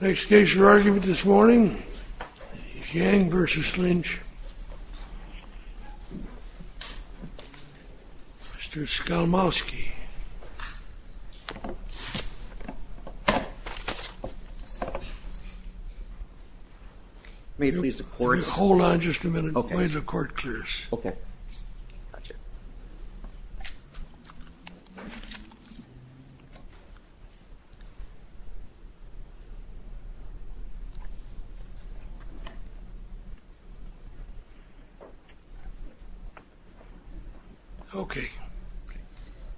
Next case for argument this morning is Yang v. Lynch. Mr. Skalmowski. May I please report? Hold on just a minute while the court clears. Okay. Okay.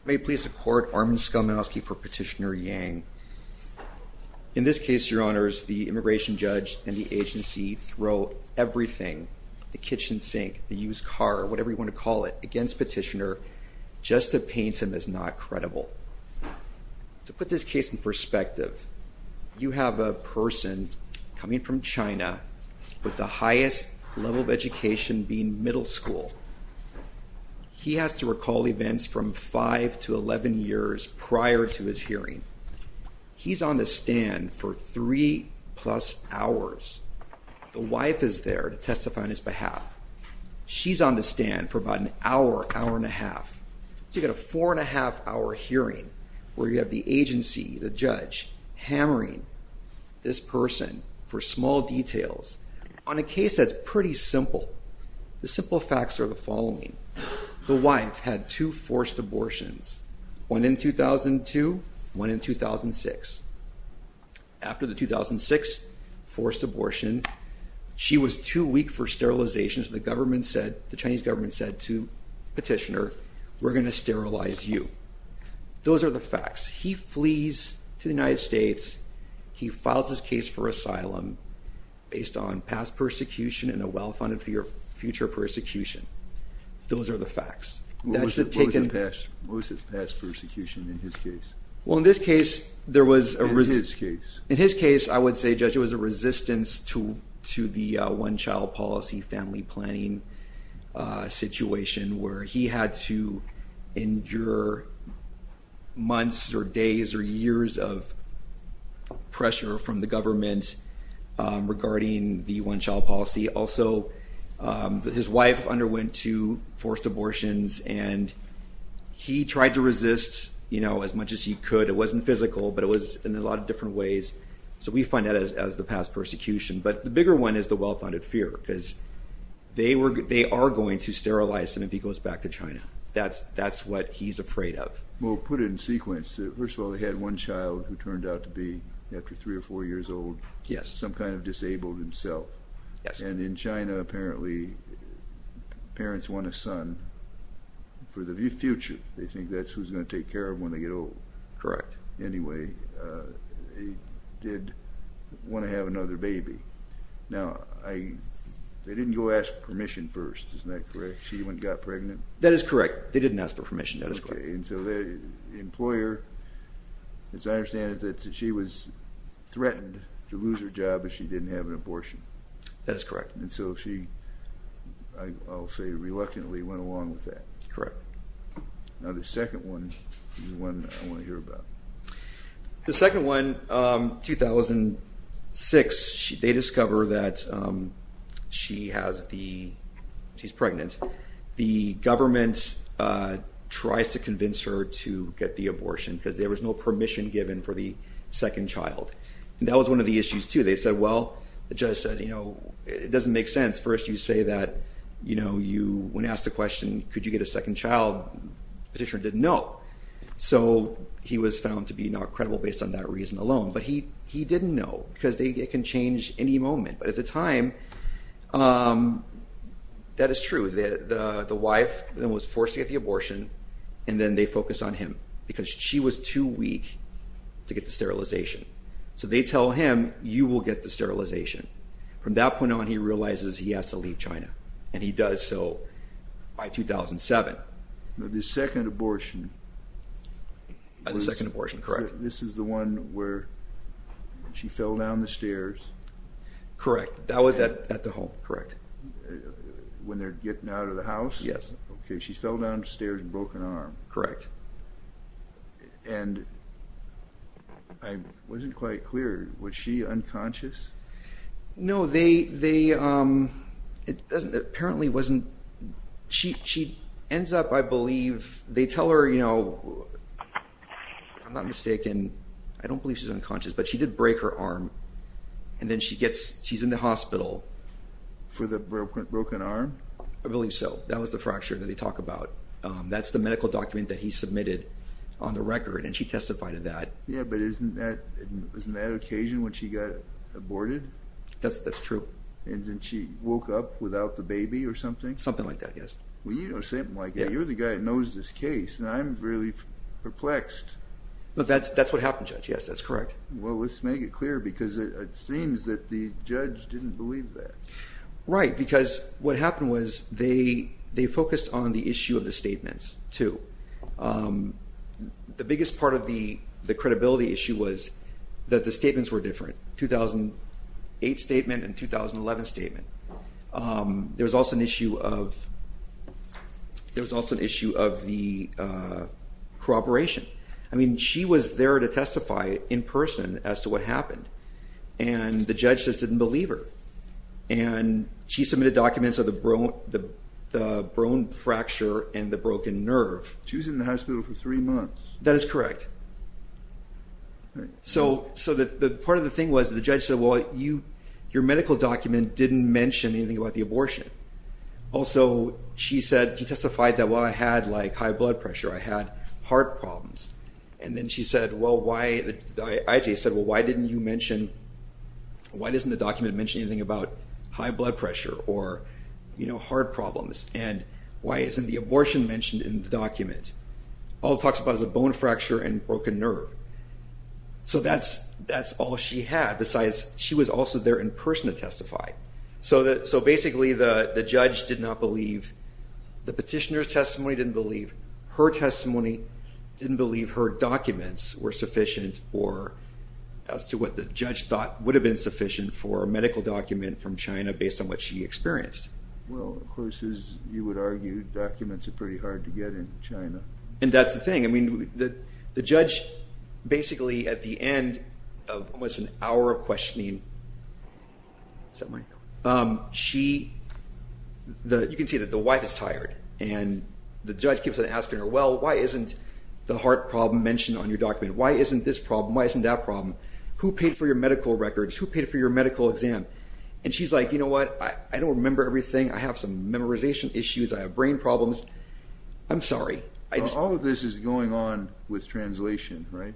May it please the court, Armin Skalmowski for Petitioner Yang. In this case, your honors, the immigration judge and the agency throw everything, the kitchen sink, the used car, whatever you want to call it, against Petitioner just to paint him as not credible. To put this case in perspective, you have a person coming from China with the highest level of education being middle school. He has to recall events from 5 to 11 years prior to his hearing. He's on the stand for 3 plus hours. The wife is there to testify on his behalf. She's on the stand for about an hour, hour and a half. So you've got a four and a half hour hearing where you have the agency, the judge, hammering this person for small details on a case that's pretty simple. The simple facts are the following. The wife had two forced abortions, one in 2002, one in 2006. After the 2006 forced abortion, she was too weak for sterilization. So the government said, the Chinese government said to Petitioner, we're going to sterilize you. Those are the facts. He flees to the United States. He files his case for asylum based on past persecution and a well-funded future persecution. Those are the facts. What was his past persecution in his case? Well, in this case, there was a resistance. In his case, I would say, Judge, it was a resistance to the one-child policy family planning situation where he had to endure months or days or years of pressure from the government regarding the one-child policy. Also, his wife underwent two forced abortions, and he tried to resist as much as he could. It wasn't physical, but it was in a lot of different ways. So we find that as the past persecution. But the bigger one is the well-funded fear because they are going to sterilize him if he goes back to China. That's what he's afraid of. Well, put it in sequence. First of all, they had one child who turned out to be, after three or four years old, some kind of disabled himself. Yes. And in China, apparently, parents want a son for the future. They think that's who's going to take care of him when they get old. Correct. Anyway, they did want to have another baby. Now, they didn't go ask permission first. Isn't that correct? She even got pregnant. That is correct. They didn't ask for permission. That is correct. And so the employer, as I understand it, that she was threatened to lose her job if she didn't have an abortion. That is correct. And so she, I'll say, reluctantly went along with that. Correct. Now, the second one is the one I want to hear about. The second one, 2006, they discover that she's pregnant. The government tries to convince her to get the abortion because there was no permission given for the second child. And that was one of the issues, too. They said, well, the judge said, you know, it doesn't make sense. First, you say that, you know, when asked the question, could you get a second child, petitioner didn't know. So he was found to be not credible based on that reason alone. But he didn't know because it can change any moment. But at the time, that is true. The wife then was forced to get the abortion. And then they focused on him because she was too weak to get the sterilization. So they tell him, you will get the sterilization. From that point on, he realizes he has to leave China. And he does so by 2007. The second abortion. The second abortion, correct. This is the one where she fell down the stairs. Correct. That was at the home. Correct. When they're getting out of the house? Yes. Okay. She fell down the stairs and broke an arm. Correct. And I wasn't quite clear. Was she unconscious? No, they, they, it doesn't, apparently wasn't. She, she ends up, I believe, they tell her, you know, I'm not mistaken. I don't believe she's unconscious, but she did break her arm. And then she gets, she's in the hospital. For the broken arm? I believe so. That was the fracture that they talk about. That's the medical document that he submitted on the record. And she testified of that. Yeah, but isn't that, isn't that occasion when she got aborted? That's, that's true. And then she woke up without the baby or something? Something like that, yes. Well, you don't say it like that. You're the guy that knows this case. And I'm really perplexed. But that's, that's what happened, Judge. Yes, that's correct. Well, let's make it clear, because it seems that the judge didn't believe that. Right, because what happened was they, they focused on the issue of the statements, too. The biggest part of the, the credibility issue was that the statements were different. 2008 statement and 2011 statement. There was also an issue of, there was also an issue of the cooperation. I mean, she was there to testify in person as to what happened. And the judge just didn't believe her. And she submitted documents of the, the, the bone fracture and the broken nerve. She was in the hospital for three months. That is correct. So, so the part of the thing was the judge said, well, you, your medical document didn't mention anything about the abortion. Also, she said, she testified that, well, I had, like, high blood pressure. I had heart problems. And then she said, well, why, the IJ said, well, why didn't you mention, why doesn't the document mention anything about high blood pressure or, you know, heart problems? And why isn't the abortion mentioned in the document? All it talks about is a bone fracture and broken nerve. So that's, that's all she had. Besides, she was also there in person to testify. So that, so basically the, the judge did not believe the petitioner's testimony, didn't believe her testimony, didn't believe her documents were sufficient or as to what the judge thought would have been sufficient for a medical document from China based on what she experienced. Well, of course, as you would argue, documents are pretty hard to get in China. And that's the thing. I mean, the judge basically at the end of almost an hour of questioning, she, you can see that the wife is tired. And the judge keeps on asking her, well, why isn't the heart problem mentioned on your document? Why isn't this problem? Why isn't that problem? Who paid for your medical records? Who paid for your medical exam? And she's like, you know what, I don't remember everything. I have some memorization issues. I have brain problems. I'm sorry. All of this is going on with translation, right?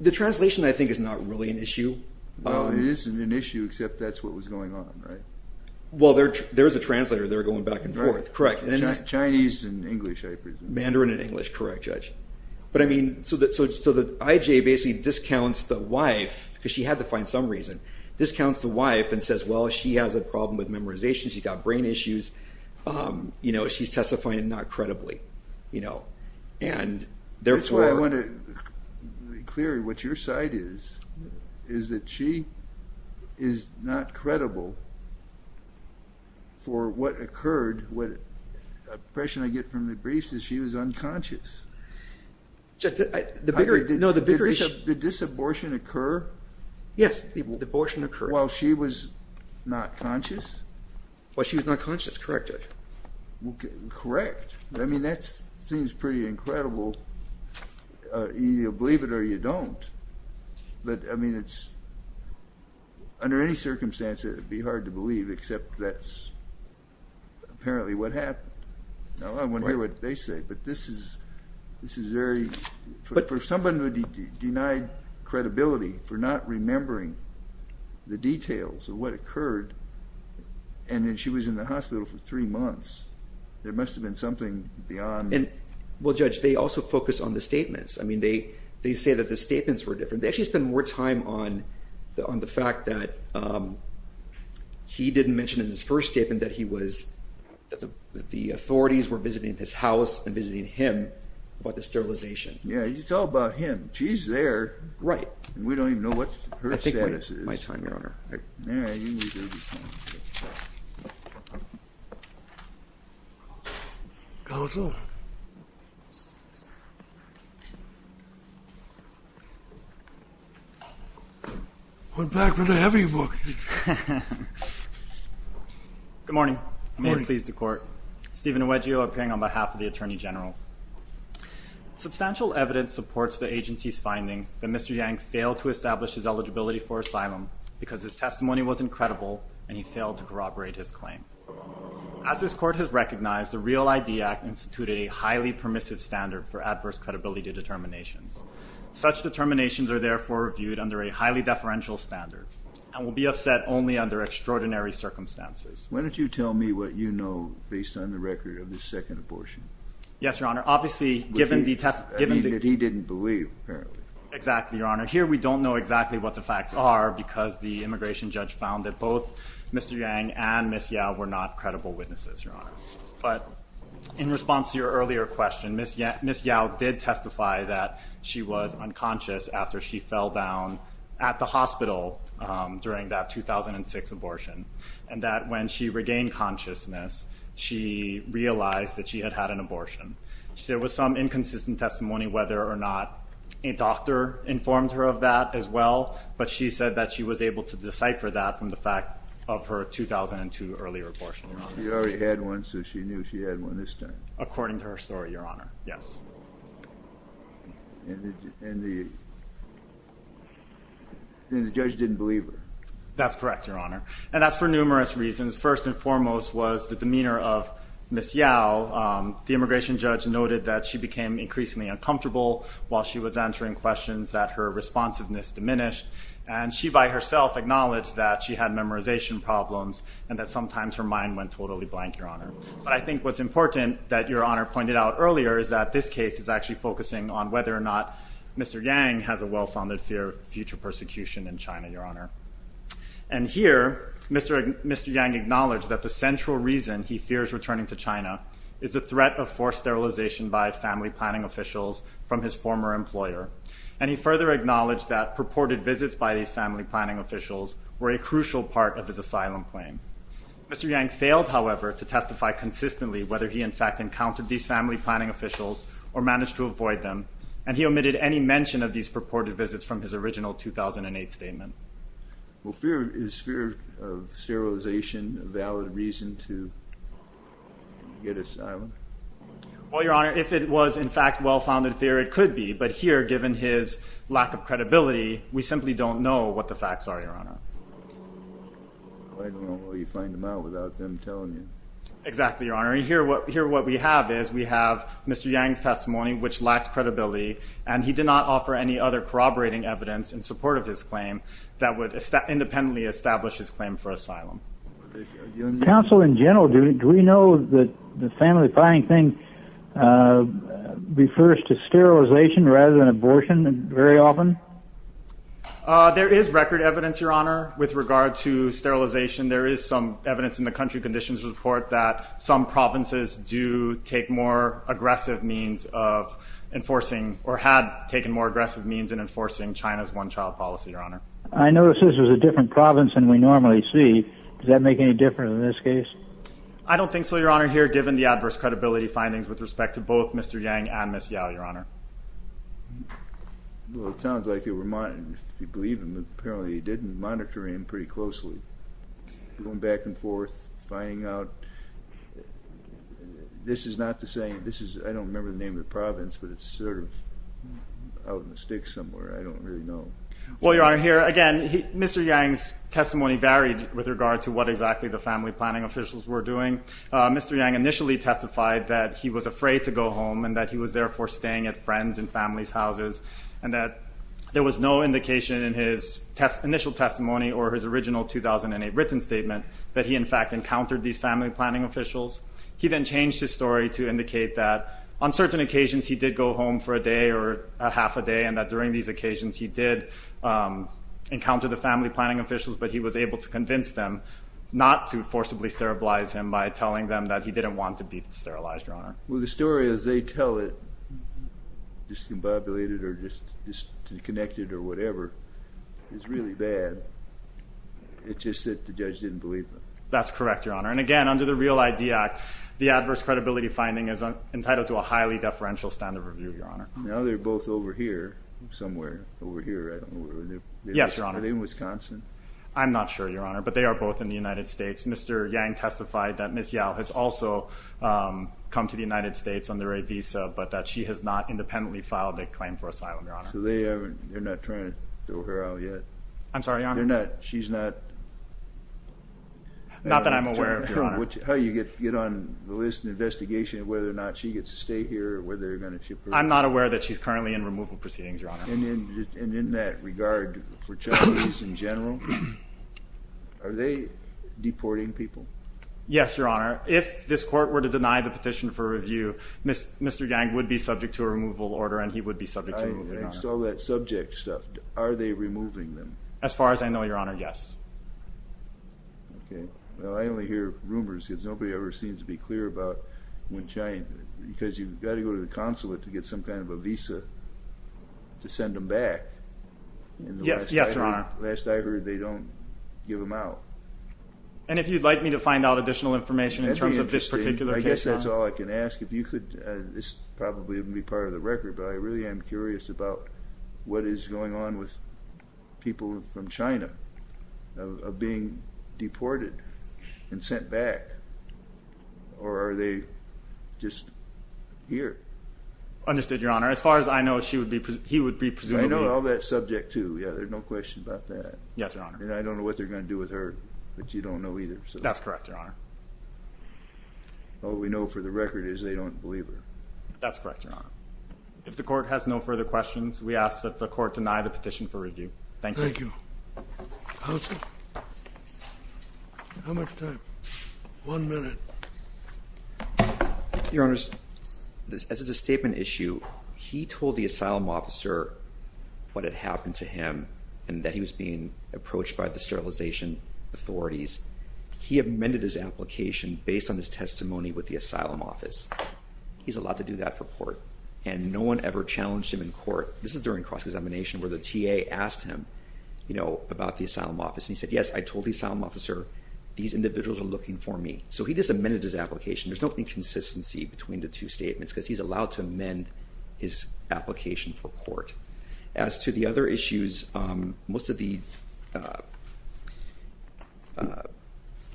The translation I think is not really an issue. Well, it isn't an issue except that's what was going on, right? Well, there's a translator. They're going back and forth. Correct. Chinese and English, I presume. Mandarin and English. Correct, Judge. But I mean, so the IJ basically discounts the wife because she had to find some reason, discounts the wife and says, well, she has a problem with memorization. She's got brain issues. You know, she's testifying not credibly. That's why I want to be clear. What your side is, is that she is not credible for what occurred. The impression I get from the briefs is she was unconscious. Did this abortion occur? Yes, the abortion occurred. While she was not conscious? While she was not conscious, correct. Correct. I mean, that seems pretty incredible. Either you believe it or you don't. But, I mean, it's under any circumstance it would be hard to believe except that's apparently what happened. Now, I wonder what they say. But this is very, for someone who denied credibility for not remembering the details of what occurred and then she was in the hospital for three months. There must have been something beyond. Well, Judge, they also focus on the statements. I mean, they say that the statements were different. They actually spend more time on the fact that he didn't mention in his first statement that he was, that the authorities were visiting his house and visiting him about the sterilization. Yeah, it's all about him. She's there. Right. And we don't even know what her status is. My time, Your Honor. Counsel. Went back with a heavy book. Good morning. Good morning. May it please the Court. Steven Nwedjo appearing on behalf of the Attorney General. Substantial evidence supports the agency's finding that Mr. Yang failed to establish his eligibility for asylum because his testimony wasn't credible and he failed to corroborate his claim. As this Court has recognized, the REAL ID Act instituted a highly permissive standard for adverse credibility determinations. Such determinations are therefore viewed under a highly deferential standard and will be upset only under extraordinary circumstances. Why don't you tell me what you know based on the record of the second abortion? Yes, Your Honor. Obviously, given the test... I mean, that he didn't believe, apparently. Exactly, Your Honor. Here we don't know exactly what the facts are because the immigration judge found that both Mr. Yang and Ms. Yao were not credible witnesses, Your Honor. But in response to your earlier question, Ms. Yao did testify that she was unconscious after she fell down at the hospital during that 2006 abortion and that when she regained consciousness, she realized that she had had an abortion. There was some inconsistent testimony whether or not a doctor informed her of that as well, but she said that she was able to decipher that from the fact of her 2002 earlier abortion. She already had one, so she knew she had one this time. According to her story, Your Honor. Yes. And the judge didn't believe her. That's correct, Your Honor. And that's for numerous reasons. First and foremost was the demeanor of Ms. Yao. The immigration judge noted that she became increasingly uncomfortable while she was answering questions, that her responsiveness diminished, and she by herself acknowledged that she had memorization problems and that sometimes her mind went totally blank, Your Honor. But I think what's important that Your Honor pointed out earlier is that this case is actually focusing on whether or not Mr. Yang has a well-founded fear of future persecution in China, Your Honor. And here, Mr. Yang acknowledged that the central reason he fears returning to China is the threat of forced sterilization by family planning officials from his former employer. And he further acknowledged that purported visits by these family planning officials were a crucial part of his asylum claim. Mr. Yang failed, however, to testify consistently whether he in fact encountered these family planning officials or managed to avoid them, and he omitted any mention of these purported visits from his original 2008 statement. Well, is fear of sterilization a valid reason to get asylum? Well, Your Honor, if it was in fact well-founded fear, it could be. But here, given his lack of credibility, we simply don't know what the facts are, Your Honor. I don't know how you find them out without them telling you. Exactly, Your Honor. And here what we have is we have Mr. Yang's testimony, which lacked credibility, and he did not offer any other corroborating evidence in support of his claim that would independently establish his claim for asylum. Counsel, in general, do we know that the family planning thing refers to sterilization rather than abortion very often? There is record evidence, Your Honor, with regard to sterilization. There is some evidence in the country conditions report that some provinces do take more aggressive means of enforcing or had taken more aggressive means in enforcing China's one-child policy, Your Honor. I notice this is a different province than we normally see. Does that make any difference in this case? I don't think so, Your Honor, here, given the adverse credibility findings with respect to both Mr. Yang and Ms. Yao, Your Honor. Well, it sounds like they were monitoring. If you believe him, apparently they did monitor him pretty closely, going back and forth, finding out. This is not the same. This is, I don't remember the name of the province, but it's sort of out in the sticks somewhere. I don't really know. Well, Your Honor, here, again, Mr. Yang's testimony varied with regard to what exactly the family planning officials were doing. Mr. Yang initially testified that he was afraid to go home and that he was, therefore, staying at friends' and family's houses and that there was no indication in his initial testimony or his original 2008 written statement that he, in fact, encountered these family planning officials. He then changed his story to indicate that on certain occasions he did go home for a day or half a day and that during these occasions he did encounter the family planning officials, but he was able to convince them not to forcibly sterilize him Well, the story as they tell it, discombobulated or disconnected or whatever, is really bad. It's just that the judge didn't believe them. That's correct, Your Honor. And, again, under the REAL ID Act, the adverse credibility finding is entitled to a highly deferential standard review, Your Honor. Now they're both over here somewhere, over here, I don't know where. Yes, Your Honor. Are they in Wisconsin? I'm not sure, Your Honor, but they are both in the United States. Mr. Yang testified that Ms. Yao has also come to the United States under a visa, but that she has not independently filed a claim for asylum, Your Honor. So they're not trying to throw her out yet? I'm sorry, Your Honor? They're not? She's not? Not that I'm aware of, Your Honor. How do you get on the list and investigation of whether or not she gets to stay here or whether they're going to keep her? I'm not aware that she's currently in removal proceedings, Your Honor. And in that regard, for Chinese in general, are they deporting people? Yes, Your Honor. If this Court were to deny the petition for review, Mr. Yang would be subject to a removal order and he would be subject to a removal order. I saw that subject stuff. Are they removing them? As far as I know, Your Honor, yes. Okay. Well, I only hear rumors because nobody ever seems to be clear about when Chinese because you've got to go to the consulate to get some kind of a visa to send them back. Yes, Your Honor. Last I heard, they don't give them out. And if you'd like me to find out additional information in terms of this particular case, Your Honor? I guess that's all I can ask. This probably wouldn't be part of the record, but I really am curious about what is going on with people from China being deported and sent back, or are they just here? Understood, Your Honor. As far as I know, he would be presumably. I know all that subject, too. Yeah, there's no question about that. Yes, Your Honor. And I don't know what they're going to do with her, but you don't know either. That's correct, Your Honor. All we know for the record is they don't believe her. That's correct, Your Honor. If the Court has no further questions, we ask that the Court deny the petition for review. Thank you. Thank you. Counsel? How much time? One minute. Your Honors, as a statement issue, he told the asylum officer what had happened to him and that he was being approached by the sterilization authorities. He amended his application based on his testimony with the asylum office. He's allowed to do that for court, and no one ever challenged him in court. This is during cross-examination where the TA asked him about the asylum office, and he said, yes, I told the asylum officer these individuals are looking for me. So he just amended his application. There's no inconsistency between the two statements because he's allowed to amend his application for court. As to the other issues, most of the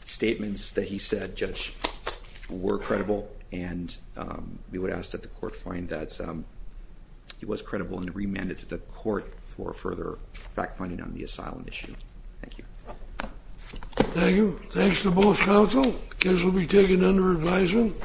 statements that he said, Judge, were credible, and we would ask that the Court find that he was credible and remand it to the Court for further fact-finding on the asylum issue. Thank you. Thank you. Thanks to both counsel. This will be taken under advisement.